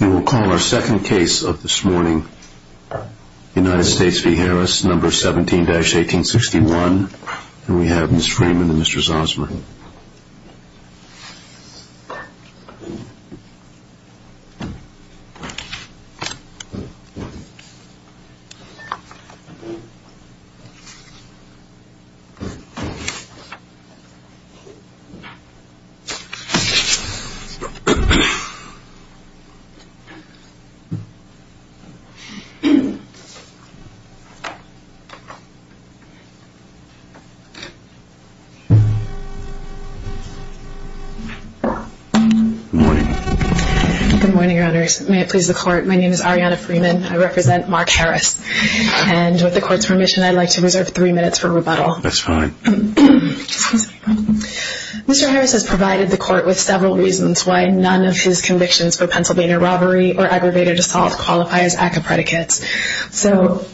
You will call our second case of this morning, United States v. Harris, number 17-1861. And we have Ms. Freeman and Mr. Zosmer. Good morning. Good morning, Your Honors. May it please the Court, my name is Ariana Freeman. I represent Marc Harris. And with the Court's permission, I'd like to reserve three minutes for rebuttal. That's fine. Mr. Harris has provided the Court with several reasons why none of his convictions for Pennsylvania robbery or aggravated assault qualify as ACCA predicates.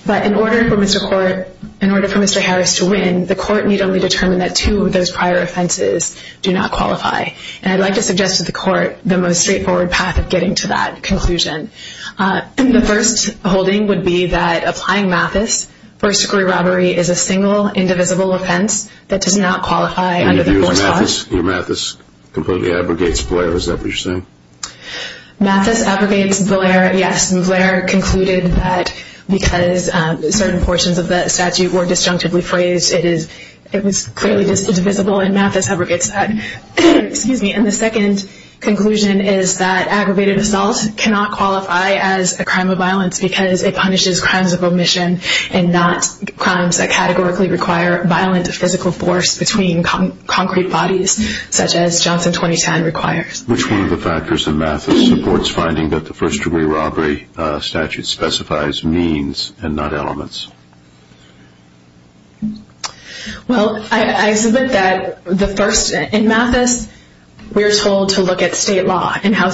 But in order for Mr. Harris to win, the Court need only determine that two of those prior offenses do not qualify. And I'd like to suggest to the Court the most straightforward path of getting to that conclusion. The first holding would be that applying Mathis for a screw robbery is a single, indivisible offense that does not qualify under the Court's laws. And if you use Mathis, your Mathis completely abrogates Blair. Is that what you're saying? Mathis abrogates Blair, yes. And Blair concluded that because certain portions of the statute were disjunctively phrased, it was clearly just indivisible and Mathis abrogates that. And the second conclusion is that aggravated assault cannot qualify as a crime of violence because it punishes crimes of omission and not crimes that categorically require violent physical force between concrete bodies, such as Johnson 2010 requires. Which one of the factors in Mathis supports finding that the first-degree robbery statute specifies means and not elements? Well, I submit that in Mathis, we're told to look at state law and how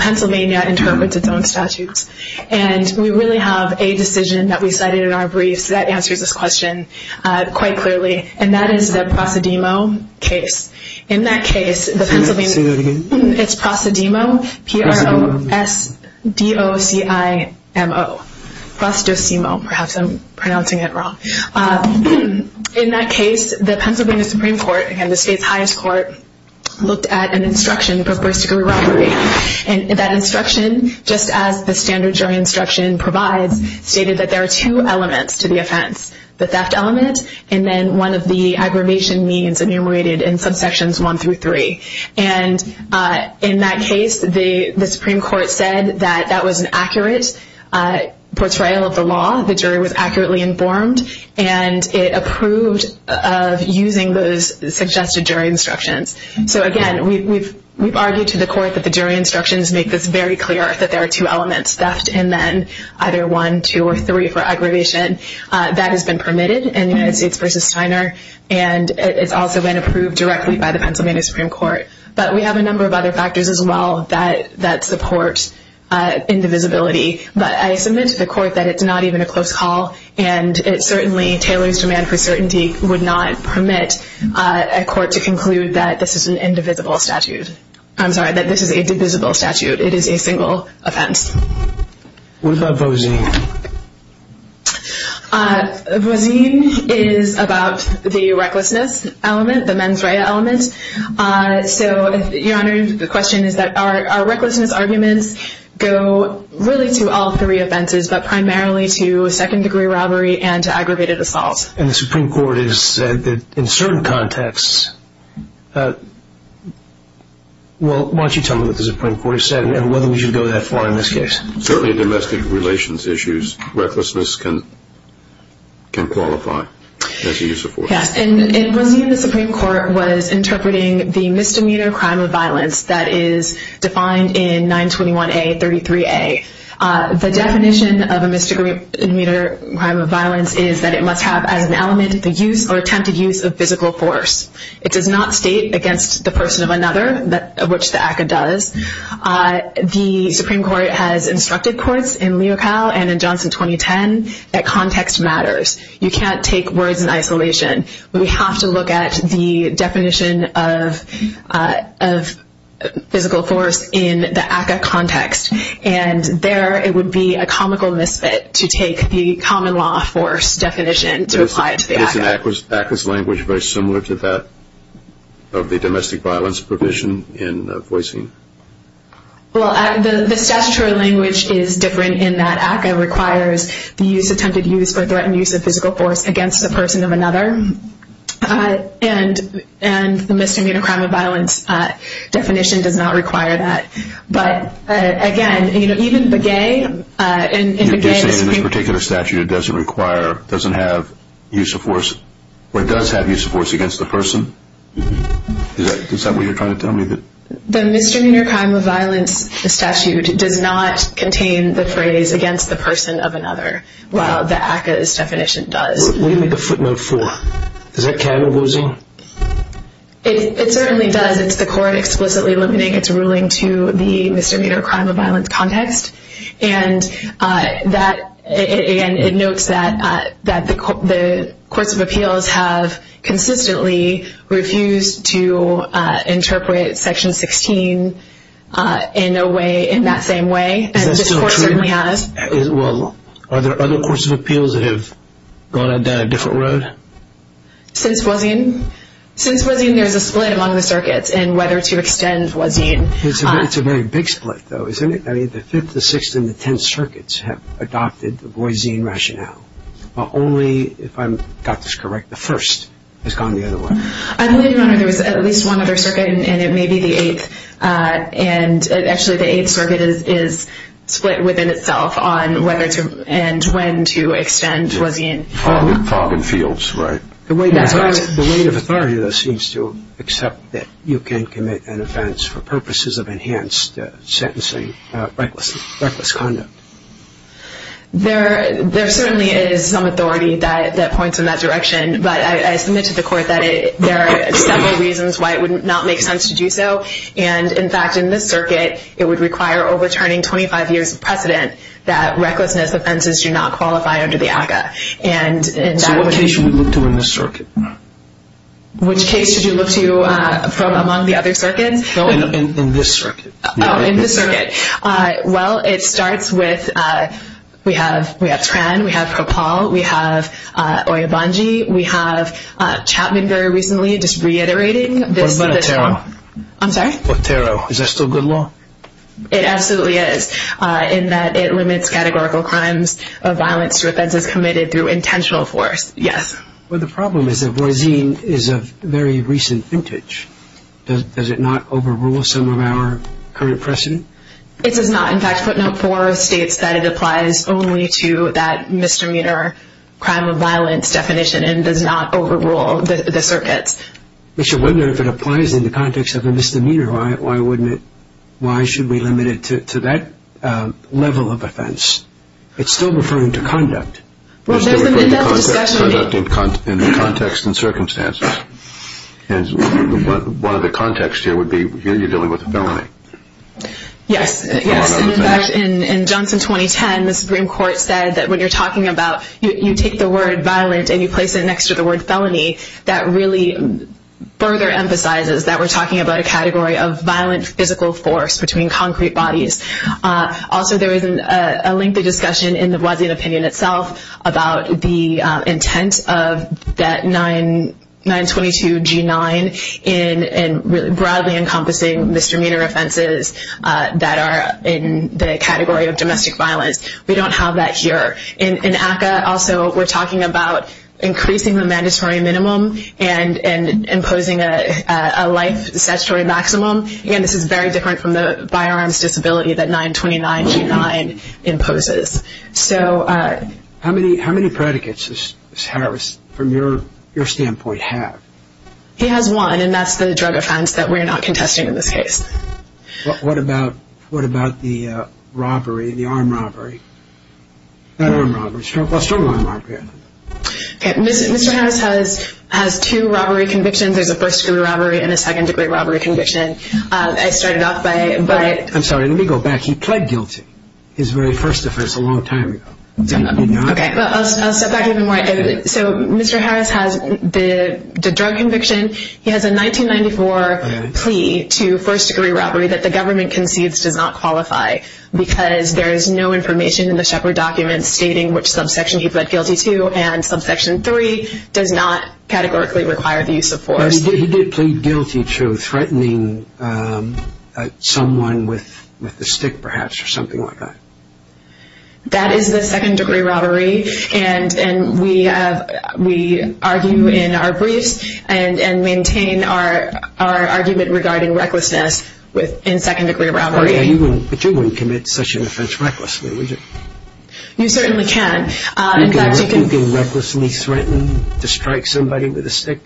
Pennsylvania interprets its own statutes. And we really have a decision that we cited in our briefs that answers this question quite clearly. And that is the prosedemo case. In that case, it's prosedemo, P-R-O-S-D-O-C-I-M-O. Prosedemo, perhaps I'm pronouncing it wrong. In that case, the Pennsylvania Supreme Court, again the state's highest court, looked at an instruction for first-degree robbery. And that instruction, just as the standard jury instruction provides, stated that there are two elements to the offense. The theft element and then one of the aggravation means enumerated in subsections one through three. And in that case, the Supreme Court said that that was an accurate portrayal of the law. The jury was accurately informed. And it approved of using those suggested jury instructions. So again, we've argued to the court that the jury instructions make this very clear that there are two elements. Theft and then either one, two, or three for aggravation. That has been permitted in United States v. Steiner. And it's also been approved directly by the Pennsylvania Supreme Court. But we have a number of other factors as well that support indivisibility. But I submit to the court that it's not even a close call. And it certainly, Taylor's demand for certainty would not permit a court to conclude that this is an indivisible statute. I'm sorry, that this is a divisible statute. It is a single offense. What about Bozine? Bozine is about the recklessness element, the mens rea element. So, Your Honor, the question is that our recklessness arguments go really to all three offenses, but primarily to second degree robbery and to aggravated assault. And the Supreme Court has said that in certain contexts, well, why don't you tell me what the Supreme Court said and whether we should go that far in this case. Certainly in domestic relations issues, recklessness can qualify as a use of force. Yes, and Bozine in the Supreme Court was interpreting the misdemeanor crime of violence that is defined in 921A, 33A. The definition of a misdemeanor crime of violence is that it must have as an element the use or attempted use of physical force. It does not state against the person of another, which the ACCA does. The Supreme Court has instructed courts in Leocal and in Johnson 2010 that context matters. You can't take words in isolation. We have to look at the definition of physical force in the ACCA context. And there it would be a comical misfit to take the common law force definition to apply it to the ACCA. Isn't ACCA's language very similar to that of the domestic violence provision in Bozine? Well, the statutory language is different in that ACCA requires the use, attempted use for threatened use of physical force against the person of another. And the misdemeanor crime of violence definition does not require that. You're saying in this particular statute it doesn't require, doesn't have use of force, or does have use of force against the person? Is that what you're trying to tell me? The misdemeanor crime of violence statute does not contain the phrase against the person of another, while the ACCA's definition does. What do you make a footnote for? Is that canon, Bozine? It certainly does. It's the court explicitly limiting its ruling to the misdemeanor crime of violence context. And that, again, it notes that the courts of appeals have consistently refused to interpret Section 16 in a way, in that same way. Is that still true? This court certainly has. Well, are there other courts of appeals that have gone down a different road? Since Bozine? Since Bozine, there's a split among the circuits in whether to extend Bozine. It's a very big split, though, isn't it? I mean, the 5th, the 6th, and the 10th circuits have adopted the Bozine rationale. But only, if I've got this correct, the 1st has gone the other way. I believe, Your Honor, there's at least one other circuit, and it may be the 8th. And actually, the 8th circuit is split within itself on whether to, and when to extend Bozine. Fog and fields, right. The weight of authority, though, seems to accept that you can commit an offense for purposes of enhanced sentencing, reckless conduct. There certainly is some authority that points in that direction. But I submit to the court that there are several reasons why it would not make sense to do so. And, in fact, in this circuit, it would require overturning 25 years of precedent that recklessness offenses do not qualify under the ACCA. So what case should we look to in this circuit? Which case should you look to from among the other circuits? In this circuit. Oh, in this circuit. Well, it starts with, we have Tran, we have Propol, we have Oyobanji, we have Chapman very recently, just reiterating this. What about Otero? I'm sorry? Otero. Is that still good law? It absolutely is, in that it limits categorical crimes of violence to offenses committed through intentional force, yes. Well, the problem is that Bozine is of very recent vintage. Does it not overrule some of our current precedent? It does not. In fact, footnote 4 states that it applies only to that misdemeanor crime of violence definition and does not overrule the circuits. I wonder if it applies in the context of a misdemeanor. Why shouldn't we limit it to that level of offense? It's still referring to conduct. It's still referring to conduct in the context and circumstances. One of the contexts here would be you're dealing with a felony. Yes. In fact, in Johnson 2010, the Supreme Court said that when you're talking about, you take the word violent and you place it next to the word felony, that really further emphasizes that we're talking about a category of violent physical force between concrete bodies. Also, there is a lengthy discussion in the Bozine opinion itself about the intent of that 922G9 in broadly encompassing misdemeanor offenses that are in the category of domestic violence. We don't have that here. In ACCA, also, we're talking about increasing the mandatory minimum and imposing a life statutory maximum. Again, this is very different from the firearms disability that 929G9 imposes. How many predicates does Harris, from your standpoint, have? He has one, and that's the drug offense that we're not contesting in this case. What about the robbery, the armed robbery? Not armed robbery. Struggle armed robbery. Mr. Harris has two robbery convictions. There's a first degree robbery and a second degree robbery conviction. I started off by- I'm sorry. Let me go back. He pled guilty. His very first offense a long time ago. Okay. I'll step back even more. Mr. Harris has the drug conviction. He has a 1994 plea to first degree robbery that the government concedes does not qualify because there is no information in the Shepard documents stating which subsection he pled guilty to and subsection three does not categorically require the use of force. He did plead guilty to threatening someone with a stick, perhaps, or something like that. That is the second degree robbery. We argue in our briefs and maintain our argument regarding recklessness in second degree robbery. But you wouldn't commit such an offense recklessly, would you? You certainly can. You can recklessly threaten to strike somebody with a stick?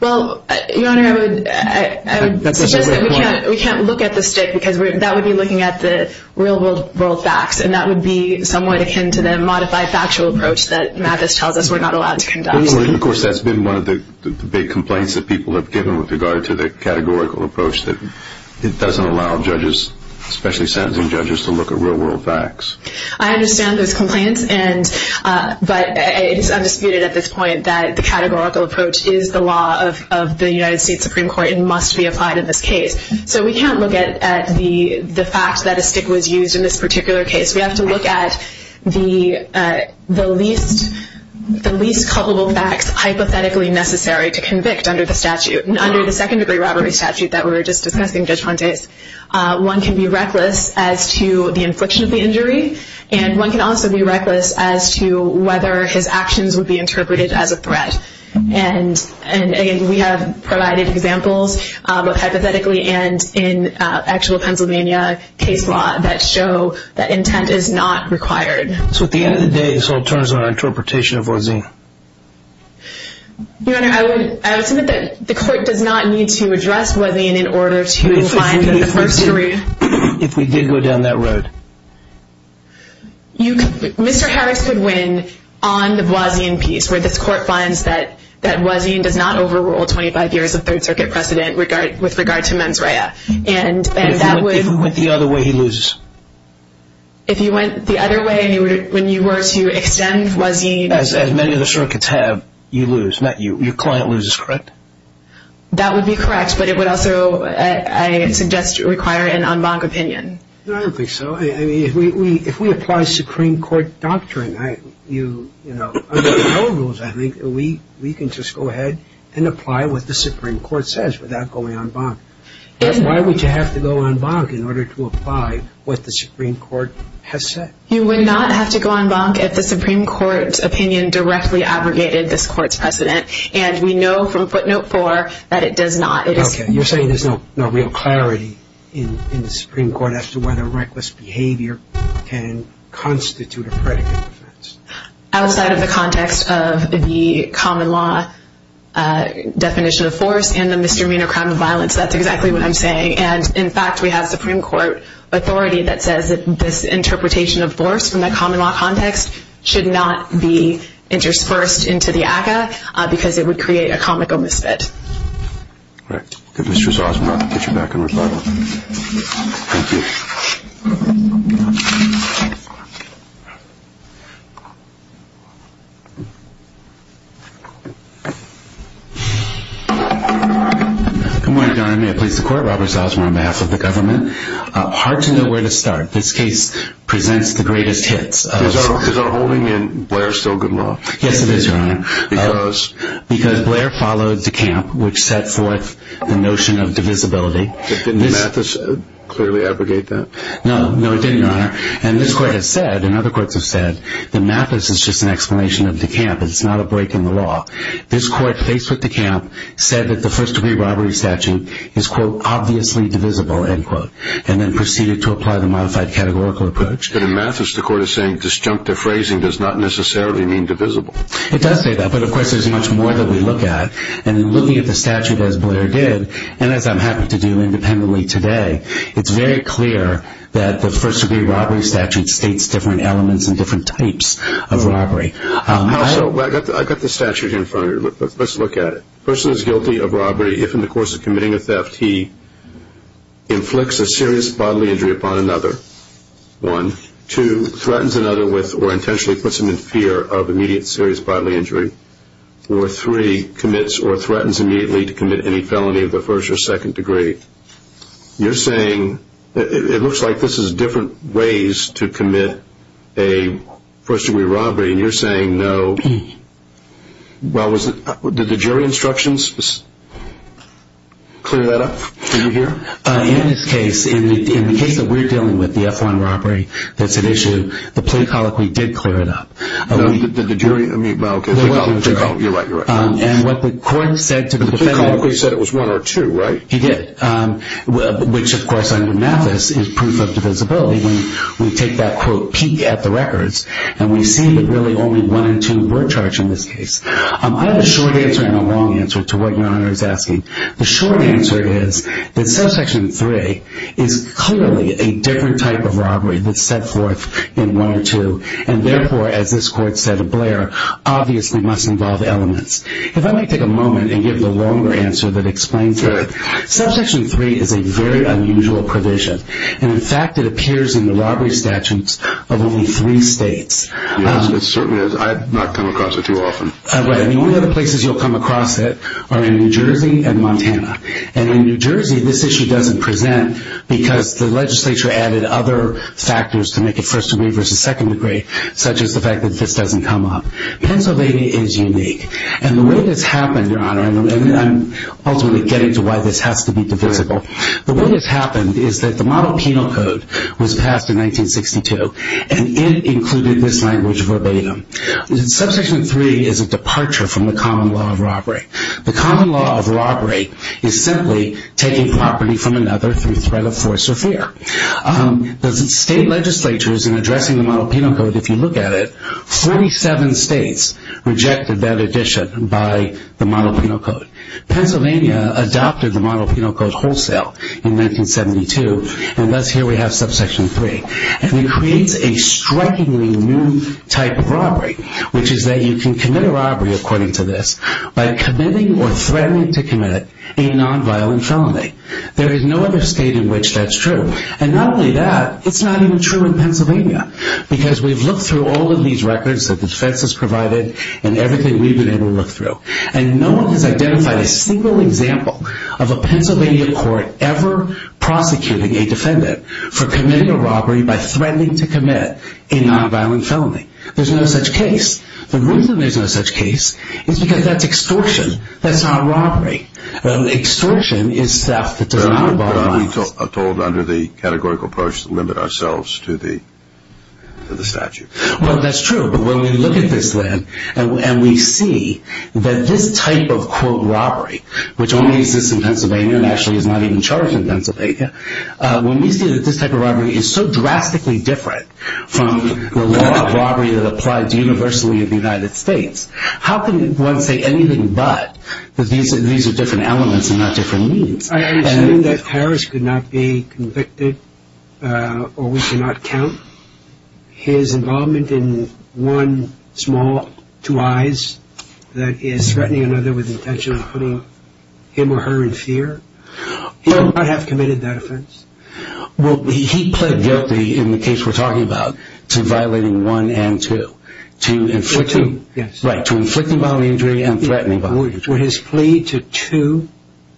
Well, Your Honor, I would suggest that we can't look at the stick because that would be looking at the real world facts, and that would be somewhat akin to the modified factual approach that Mathis tells us we're not allowed to conduct. Of course, that's been one of the big complaints that people have given with regard to the categorical approach that it doesn't allow judges, especially sentencing judges, to look at real world facts. I understand those complaints, but it is undisputed at this point that the categorical approach is the law of the United States Supreme Court and must be applied in this case. So we can't look at the fact that a stick was used in this particular case. We have to look at the least culpable facts hypothetically necessary to convict under the statute. Under the second degree robbery statute that we were just discussing, Judge Fontes, one can be reckless as to the infliction of the injury, and one can also be reckless as to whether his actions would be interpreted as a threat. And again, we have provided examples, both hypothetically and in actual Pennsylvania case law, that show that intent is not required. So at the end of the day, this all turns on interpretation of Voisin. Your Honor, I would submit that the court does not need to address Voisin in order to find the first jury. If we did go down that road. Mr. Harris could win on the Voisin piece, where this court finds that Voisin does not overrule 25 years of Third Circuit precedent with regard to mens rea. If we went the other way, he loses. If you went the other way, when you were to extend Voisin. As many of the circuits have, you lose. Your client loses, correct? That would be correct, but it would also, I suggest, require an en banc opinion. No, I don't think so. I mean, if we apply Supreme Court doctrine, under our rules, I think, we can just go ahead and apply what the Supreme Court says without going en banc. Why would you have to go en banc in order to apply what the Supreme Court has said? You would not have to go en banc if the Supreme Court's opinion directly abrogated this court's precedent, and we know from footnote four that it does not. You're saying there's no real clarity in the Supreme Court as to whether reckless behavior can constitute a predicate defense. Outside of the context of the common law definition of force and the misdemeanor crime of violence, that's exactly what I'm saying. And, in fact, we have Supreme Court authority that says this interpretation of force from the common law context should not be interspersed into the ACCA because it would create a comical misfit. Right. Good. Mr. Zausman, I'll get you back in rebuttal. Thank you. Good morning, Your Honor. May it please the Court. Robert Zausman on behalf of the government. Hard to know where to start. This case presents the greatest hits. Is our holding in Blair still good law? Yes, it is, Your Honor. Because? Because Blair followed DeCamp, which set forth the notion of divisibility. Didn't Mathis clearly abrogate that? No, it didn't, Your Honor. And this Court has said, and other courts have said, that Mathis is just an explanation of DeCamp. It's not a break in the law. This Court, faced with DeCamp, said that the first-degree robbery statute is, quote, obviously divisible, end quote, and then proceeded to apply the modified categorical approach. But in Mathis, the Court is saying disjunctive phrasing does not necessarily mean divisible. It does say that. But, of course, there's much more that we look at. And in looking at the statute as Blair did, and as I'm happy to do independently today, it's very clear that the first-degree robbery statute states different elements and different types of robbery. I've got the statute in front of me. Let's look at it. A person is guilty of robbery if, in the course of committing a theft, he inflicts a serious bodily injury upon another, one. Or three, commits or threatens immediately to commit any felony of the first or second degree. You're saying it looks like this is different ways to commit a first-degree robbery, and you're saying no. Well, did the jury instructions clear that up? Did you hear? In this case, in the case that we're dealing with, the F1 robbery, that's an issue, the plea colloquy did clear it up. Did the jury? Well, okay. You're right, you're right. And what the court said to the defendant. The plea colloquy said it was one or two, right? It did, which, of course, under Mathis is proof of divisibility. When we take that, quote, peek at the records, and we see that really only one and two were charged in this case. I have a short answer and a long answer to what Your Honor is asking. The short answer is that subsection 3 is clearly a different type of robbery that's set forth in one or two, and therefore, as this court said to Blair, obviously must involve elements. If I might take a moment and give the longer answer that explains it. Okay. Subsection 3 is a very unusual provision, and, in fact, it appears in the robbery statutes of only three states. Yes, it certainly does. I have not come across it too often. Right. I mean, one of the places you'll come across it are in New Jersey and Montana. And in New Jersey, this issue doesn't present because the legislature added other factors to make it first degree versus second degree, such as the fact that this doesn't come up. Pennsylvania is unique, and the way this happened, Your Honor, and I'm ultimately getting to why this has to be divisible. The way this happened is that the model penal code was passed in 1962, and it included this language verbatim. Subsection 3 is a departure from the common law of robbery. The common law of robbery is simply taking property from another through threat of force or fear. The state legislatures in addressing the model penal code, if you look at it, 47 states rejected that addition by the model penal code. Pennsylvania adopted the model penal code wholesale in 1972, and thus here we have subsection 3. And it creates a strikingly new type of robbery, which is that you can commit a robbery, according to this, by committing or threatening to commit a nonviolent felony. There is no other state in which that's true. And not only that, it's not even true in Pennsylvania, because we've looked through all of these records that defense has provided and everything we've been able to look through, and no one has identified a single example of a Pennsylvania court ever prosecuting a defendant for committing a robbery by threatening to commit a nonviolent felony. There's no such case. The reason there's no such case is because that's extortion. That's not robbery. Extortion is theft that does not involve violence. But aren't we told under the categorical approach to limit ourselves to the statute? Well, that's true, but when we look at this then and we see that this type of, quote, robbery, which only exists in Pennsylvania and actually is not even charged in Pennsylvania, when we see that this type of robbery is so drastically different from the law of robbery that applies universally in the United States, how can one say anything but that these are different elements and not different means? I understand that Harris could not be convicted or we cannot count his involvement in one small, two eyes, that is, threatening another with the intention of putting him or her in fear. He would not have committed that offense. Well, he pled guilty in the case we're talking about to violating 1 and 2, to inflicting bodily injury and threatening bodily injury. Would his plea to 2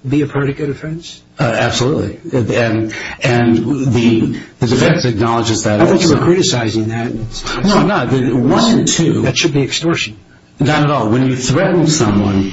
be a predicate offense? Absolutely, and the defense acknowledges that also. I thought you were criticizing that. No, I'm not. 1 and 2. That should be extortion. Not at all. When you threaten someone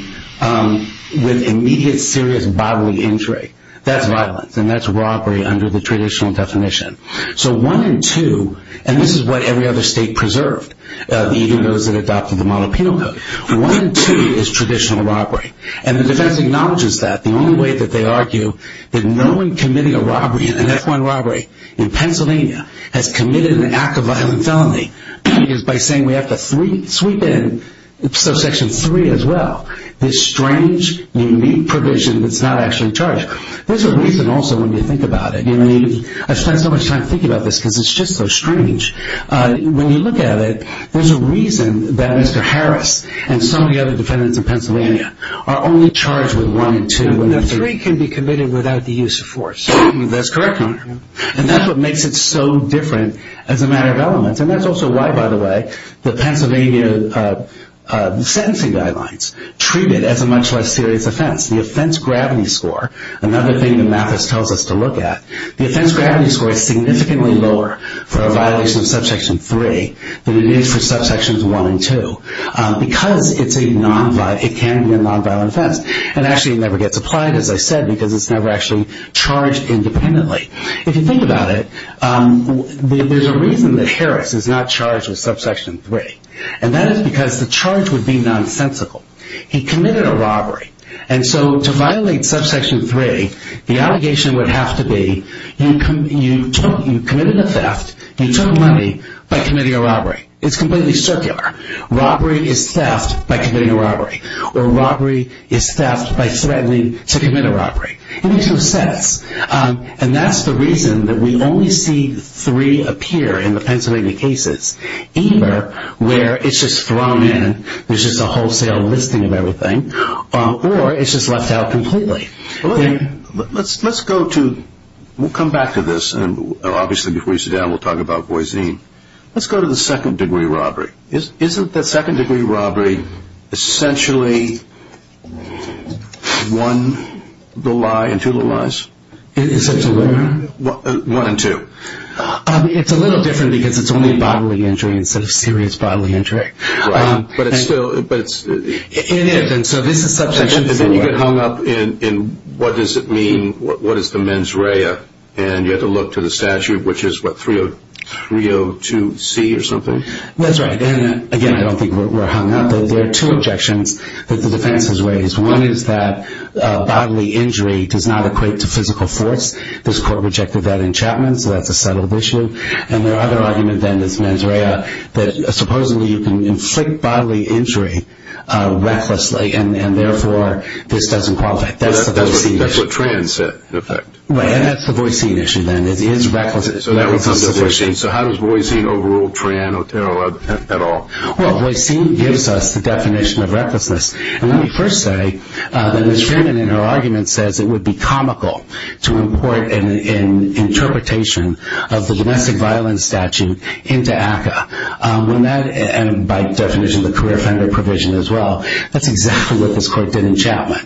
with immediate serious bodily injury, that's violence and that's robbery under the traditional definition. So 1 and 2, and this is what every other state preserved, even those that adopted the model penal code. 1 and 2 is traditional robbery, and the defense acknowledges that. The only way that they argue that no one committing a robbery, an F1 robbery in Pennsylvania, has committed an act of violent felony is by saying we have to sweep in Section 3 as well, this strange, unique provision that's not actually charged. There's a reason also when you think about it. I spend so much time thinking about this because it's just so strange. When you look at it, there's a reason that Mr. Harris and so many other defendants in Pennsylvania are only charged with 1 and 2. The 3 can be committed without the use of force. That's correct, Your Honor. And that's what makes it so different as a matter of element, and that's also why, by the way, the Pennsylvania sentencing guidelines treat it as a much less serious offense. The offense gravity score, another thing that Mathis tells us to look at, the offense gravity score is significantly lower for a violation of Subsection 3 than it is for Subsections 1 and 2 because it can be a nonviolent offense. It actually never gets applied, as I said, because it's never actually charged independently. If you think about it, there's a reason that Harris is not charged with Subsection 3, and that is because the charge would be nonsensical. He committed a robbery. And so to violate Subsection 3, the allegation would have to be you committed a theft, you took money by committing a robbery. It's completely circular. Robbery is theft by committing a robbery, or robbery is theft by threatening to commit a robbery. It makes no sense. And that's the reason that we only see 3 appear in the Pennsylvania cases, either where it's just thrown in, there's just a wholesale listing of everything, or it's just left out completely. Let's go to, we'll come back to this, and obviously before you sit down, we'll talk about Boise. Let's go to the second-degree robbery. Isn't the second-degree robbery essentially one little lie and two little lies? Is it two little lies? One and two. It's a little different because it's only bodily injury instead of serious bodily injury. But it's still, but it's... It is, and so this is Subsection 3. And then you get hung up in what does it mean, what is the mens rea, and you have to look to the statute, which is what, 302C or something? That's right. And again, I don't think we're hung up. There are two objections that the defense has raised. One is that bodily injury does not equate to physical force. This court rejected that in Chapman, so that's a settled issue. And their other argument then is mens rea, that supposedly you can inflict bodily injury recklessly, and therefore this doesn't qualify. That's the Boise issue. That's what Tran said, in effect. Right, and that's the Boise issue then, is recklessness. So how does Boise overrule Tran or Terrell at all? Well, Boise gives us the definition of recklessness. And let me first say that Ms. Freeman, in her argument, says it would be comical to import an interpretation of the domestic violence statute into ACCA, and by definition the career offender provision as well. That's exactly what this court did in Chapman.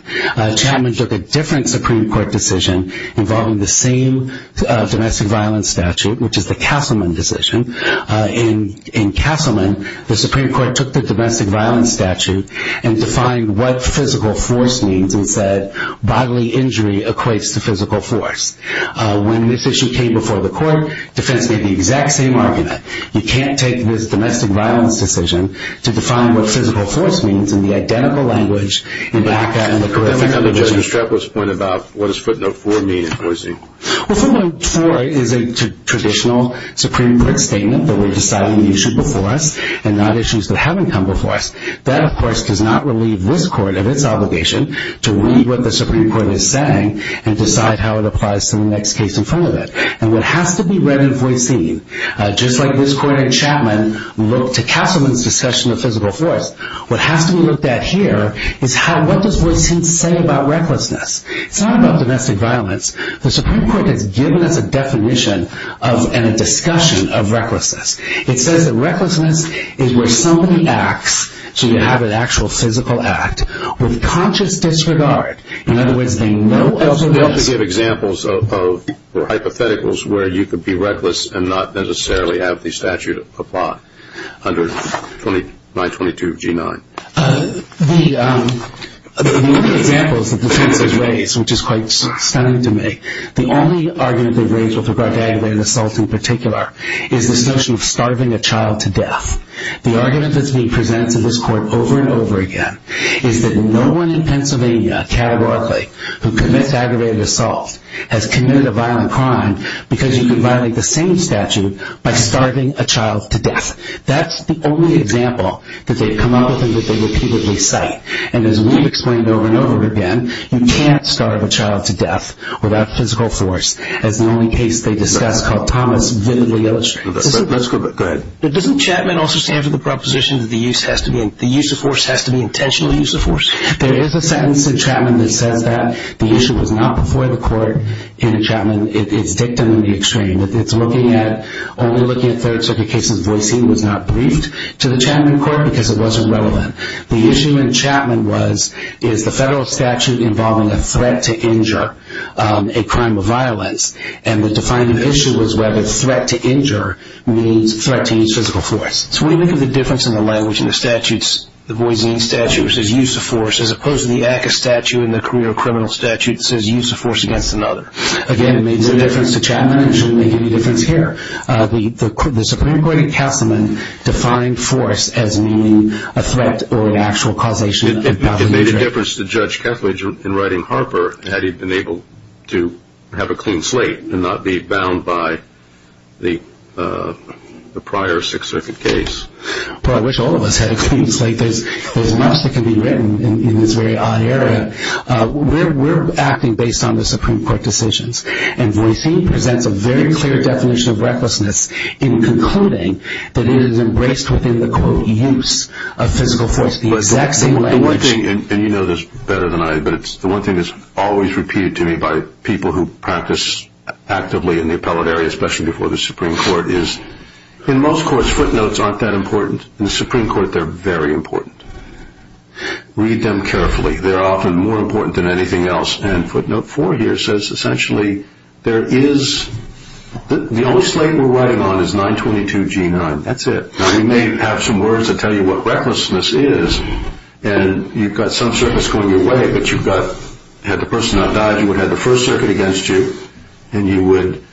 Chapman took a different Supreme Court decision involving the same domestic violence statute, which is the Castleman decision. In Castleman, the Supreme Court took the domestic violence statute and defined what physical force means and said bodily injury equates to physical force. When this issue came before the court, defense made the exact same argument. You can't take this domestic violence decision to define what physical force means in the identical language in ACCA and the career offender provision. That becomes a juxtaposed point about what does footnote 4 mean in Boise. Well, footnote 4 is a traditional Supreme Court statement that we're deciding the issue before us and not issues that haven't come before us. That, of course, does not relieve this court of its obligation to read what the Supreme Court is saying and decide how it applies to the next case in front of it. And what has to be read in Boise, just like this court in Chapman looked to Castleman's discussion of physical force, what has to be looked at here is what does Boise say about recklessness. It's not about domestic violence. The Supreme Court has given us a definition and a discussion of recklessness. It says that recklessness is where somebody acts, so you have an actual physical act, with conscious disregard. In other words, they know elsewhere... They also give examples or hypotheticals where you could be reckless and not necessarily have the statute apply under 922G9. The only examples that the defense has raised, which is quite stunning to me, the only argument they've raised with regard to aggravated assault in particular is this notion of starving a child to death. The argument that's being presented to this court over and over again is that no one in Pennsylvania, categorically, who commits aggravated assault has committed a violent crime because you could violate the same statute by starving a child to death. That's the only example that they've come up with and that they repeatedly cite. And as we've explained over and over again, you can't starve a child to death without physical force, as the only case they discuss called Thomas vividly illustrates. But doesn't Chapman also stand for the proposition that the use of force has to be intentional use of force? There is a sentence in Chapman that says that. The issue was not before the court in Chapman. It's dictum in the extreme. It's only looking at third-circuit cases. Voisin was not briefed to the Chapman court because it wasn't relevant. The issue in Chapman is the federal statute involving a threat to injure, a crime of violence, and the defining issue was whether threat to injure means threat to use physical force. So when you think of the difference in the language in the statutes, the Voisin statute, which is use of force, as opposed to the ACCA statute in the career of criminal statute that says use of force against another. Again, it made no difference to Chapman. It shouldn't make any difference here. The Supreme Court in Castleman defined force as meaning a threat or an actual causation of power to injure. It made a difference to Judge Kethledge in writing Harper had he been able to have a clean slate and not be bound by the prior Sixth Circuit case. Well, I wish all of us had a clean slate. There's much that can be written in this very odd era. We're acting based on the Supreme Court decisions, and Voisin presents a very clear definition of recklessness in concluding that it is embraced within the, quote, use of physical force, the exact same language. The one thing, and you know this better than I, but it's the one thing that's always repeated to me by people who practice actively in the appellate area, especially before the Supreme Court, is in most courts footnotes aren't that important. In the Supreme Court, they're very important. Read them carefully. They're often more important than anything else, and footnote four here says essentially there is, the only slate we're writing on is 922 G9. That's it. Now, we may have some words that tell you what recklessness is, and you've got some circuits going your way, but you've got, had the person not died, you would have had the First Circuit against you, and you would,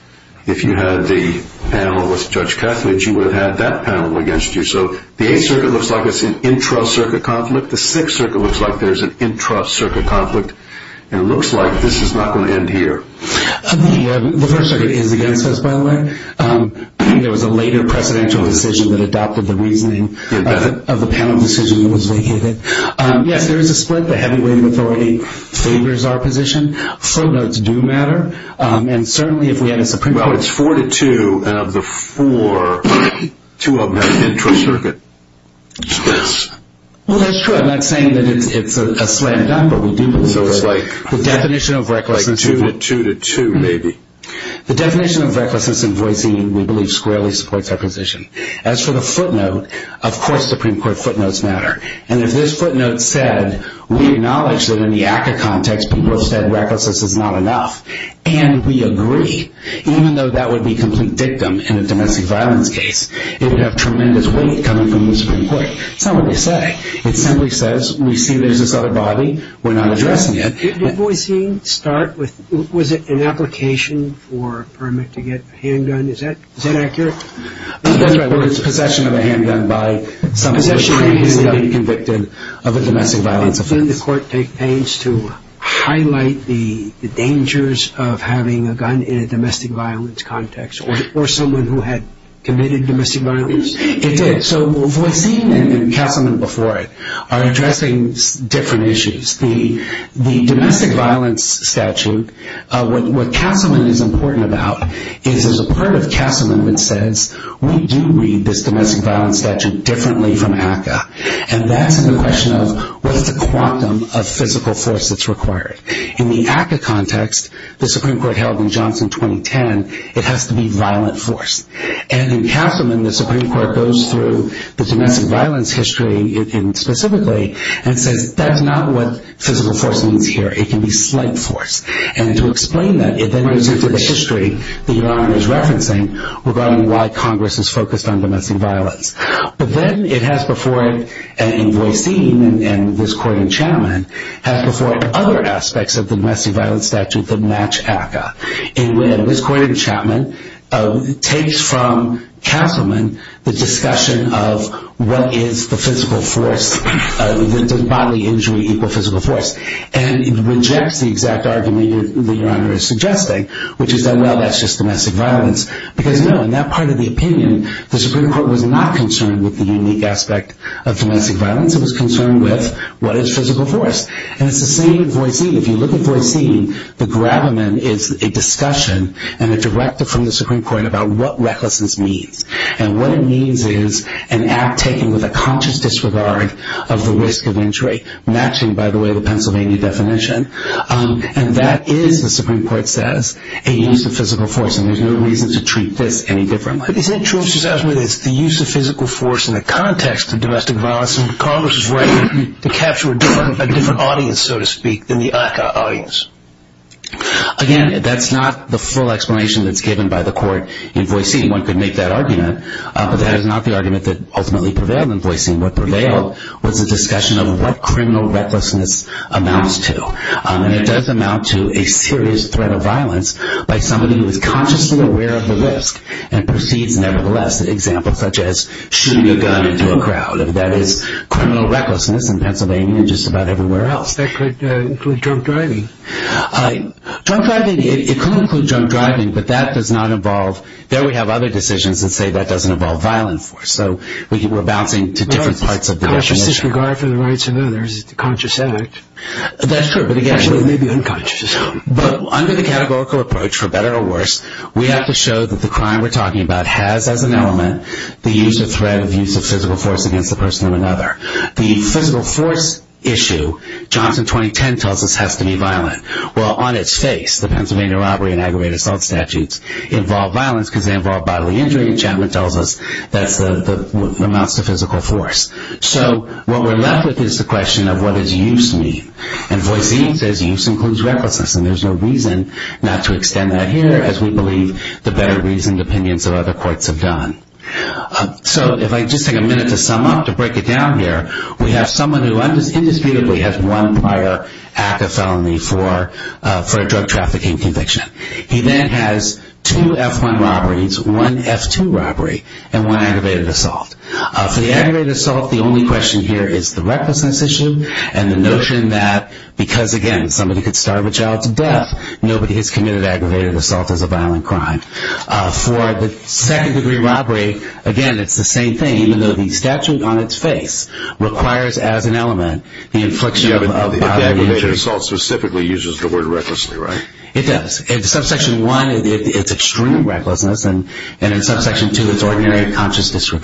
if you had the panel with Judge Kethledge, you would have had that panel against you. So the Eighth Circuit looks like it's an intra-circuit conflict. The Sixth Circuit looks like there's an intra-circuit conflict, and it looks like this is not going to end here. The First Circuit is against us, by the way. There was a later precedential decision that adopted the reasoning of the panel decision that was vacated. Yes, there is a split. The heavyweight authority favors our position. Footnotes do matter, and certainly if we had a Supreme Court. Well, it's four to two, and of the four, two of them have intra-circuit. Yes. Well, that's true. I'm not saying that it's a slam dunk, but we do believe that. So it's like two to two, maybe. The definition of recklessness in voicing, we believe, squarely supports our position. As for the footnote, of course Supreme Court footnotes matter, and if this footnote said, we acknowledge that in the ACCA context people have said recklessness is not enough, and we agree, even though that would be complete dictum in a domestic violence case, it would have tremendous weight coming from the Supreme Court. It's not what they say. It simply says, we see there's this other body, we're not addressing it. Did voicing start with, was it an application for a permit to get a handgun? Is that accurate? That's right. It's possession of a handgun by somebody who has been convicted of a domestic violence offense. Doesn't the court take pains to highlight the dangers of having a gun in a domestic violence context, or someone who had committed domestic violence? It did. So voicing and Castleman before it are addressing different issues. The domestic violence statute, what Castleman is important about, is there's a part of Castleman that says, we do read this domestic violence statute differently from ACCA, and that's in the question of what's the quantum of physical force that's required. In the ACCA context, the Supreme Court held in Johnson 2010, it has to be violent force. And in Castleman, the Supreme Court goes through the domestic violence history specifically and says that's not what physical force means here. It can be slight force. And to explain that, it then goes into the history that your Honor is referencing regarding why Congress is focused on domestic violence. But then it has before it, and voicing and this court in Chapman, has before it other aspects of the domestic violence statute that match ACCA. And this court in Chapman takes from Castleman the discussion of what is the physical force, the bodily injury equal physical force. And it rejects the exact argument that your Honor is suggesting, which is that, well, that's just domestic violence. Because, no, in that part of the opinion, the Supreme Court was not concerned with the unique aspect of domestic violence. It was concerned with what is physical force. And it's the same voicing. If you look at voicing, the gravamen is a discussion and a directive from the Supreme Court about what recklessness means. And what it means is an act taken with a conscious disregard of the risk of injury, matching, by the way, the Pennsylvania definition. And that is, the Supreme Court says, a use of physical force. And there's no reason to treat this any differently. But isn't it true that it's the use of physical force in the context of domestic violence, and Congress is ready to capture a different audience, so to speak, than the ACCA audience? Again, that's not the full explanation that's given by the court in voicing. One could make that argument. But that is not the argument that ultimately prevailed in voicing. What prevailed was a discussion of what criminal recklessness amounts to. And it does amount to a serious threat of violence by somebody who is consciously aware of the risk and proceeds nevertheless, an example such as shooting a gun into a crowd. That is criminal recklessness in Pennsylvania and just about everywhere else. That could include drunk driving. Drunk driving, it could include drunk driving, but that does not involve ñ there we have other decisions that say that doesn't involve violent force. So we're bouncing to different parts of the definition. Conscious disregard for the rights of others is a conscious act. That's true, but it may be unconscious as well. But under the categorical approach, for better or worse, we have to show that the crime we're talking about has as an element the use or threat of use of physical force against the person or another. The physical force issue, Johnson 2010 tells us, has to be violent. Well, on its face, the Pennsylvania robbery and aggravated assault statutes involve violence because they involve bodily injury, and Chapman tells us that amounts to physical force. So what we're left with is the question of what does use mean? And Voice E says use includes recklessness, and there's no reason not to extend that here as we believe the better reasoned opinions of other courts have done. So if I just take a minute to sum up, to break it down here, we have someone who indisputably has one prior act of felony for a drug trafficking conviction. He then has two F1 robberies, one F2 robbery, and one aggravated assault. For the aggravated assault, the only question here is the recklessness issue and the notion that because, again, somebody could starve a child to death, nobody has committed aggravated assault as a violent crime. For the second-degree robbery, again, it's the same thing, even though the statute on its face requires as an element the infliction of bodily injury. But the aggravated assault specifically uses the word recklessly, right? It does. In subsection 1, it's extreme recklessness, and in subsection 2, it's ordinary conscious disregard.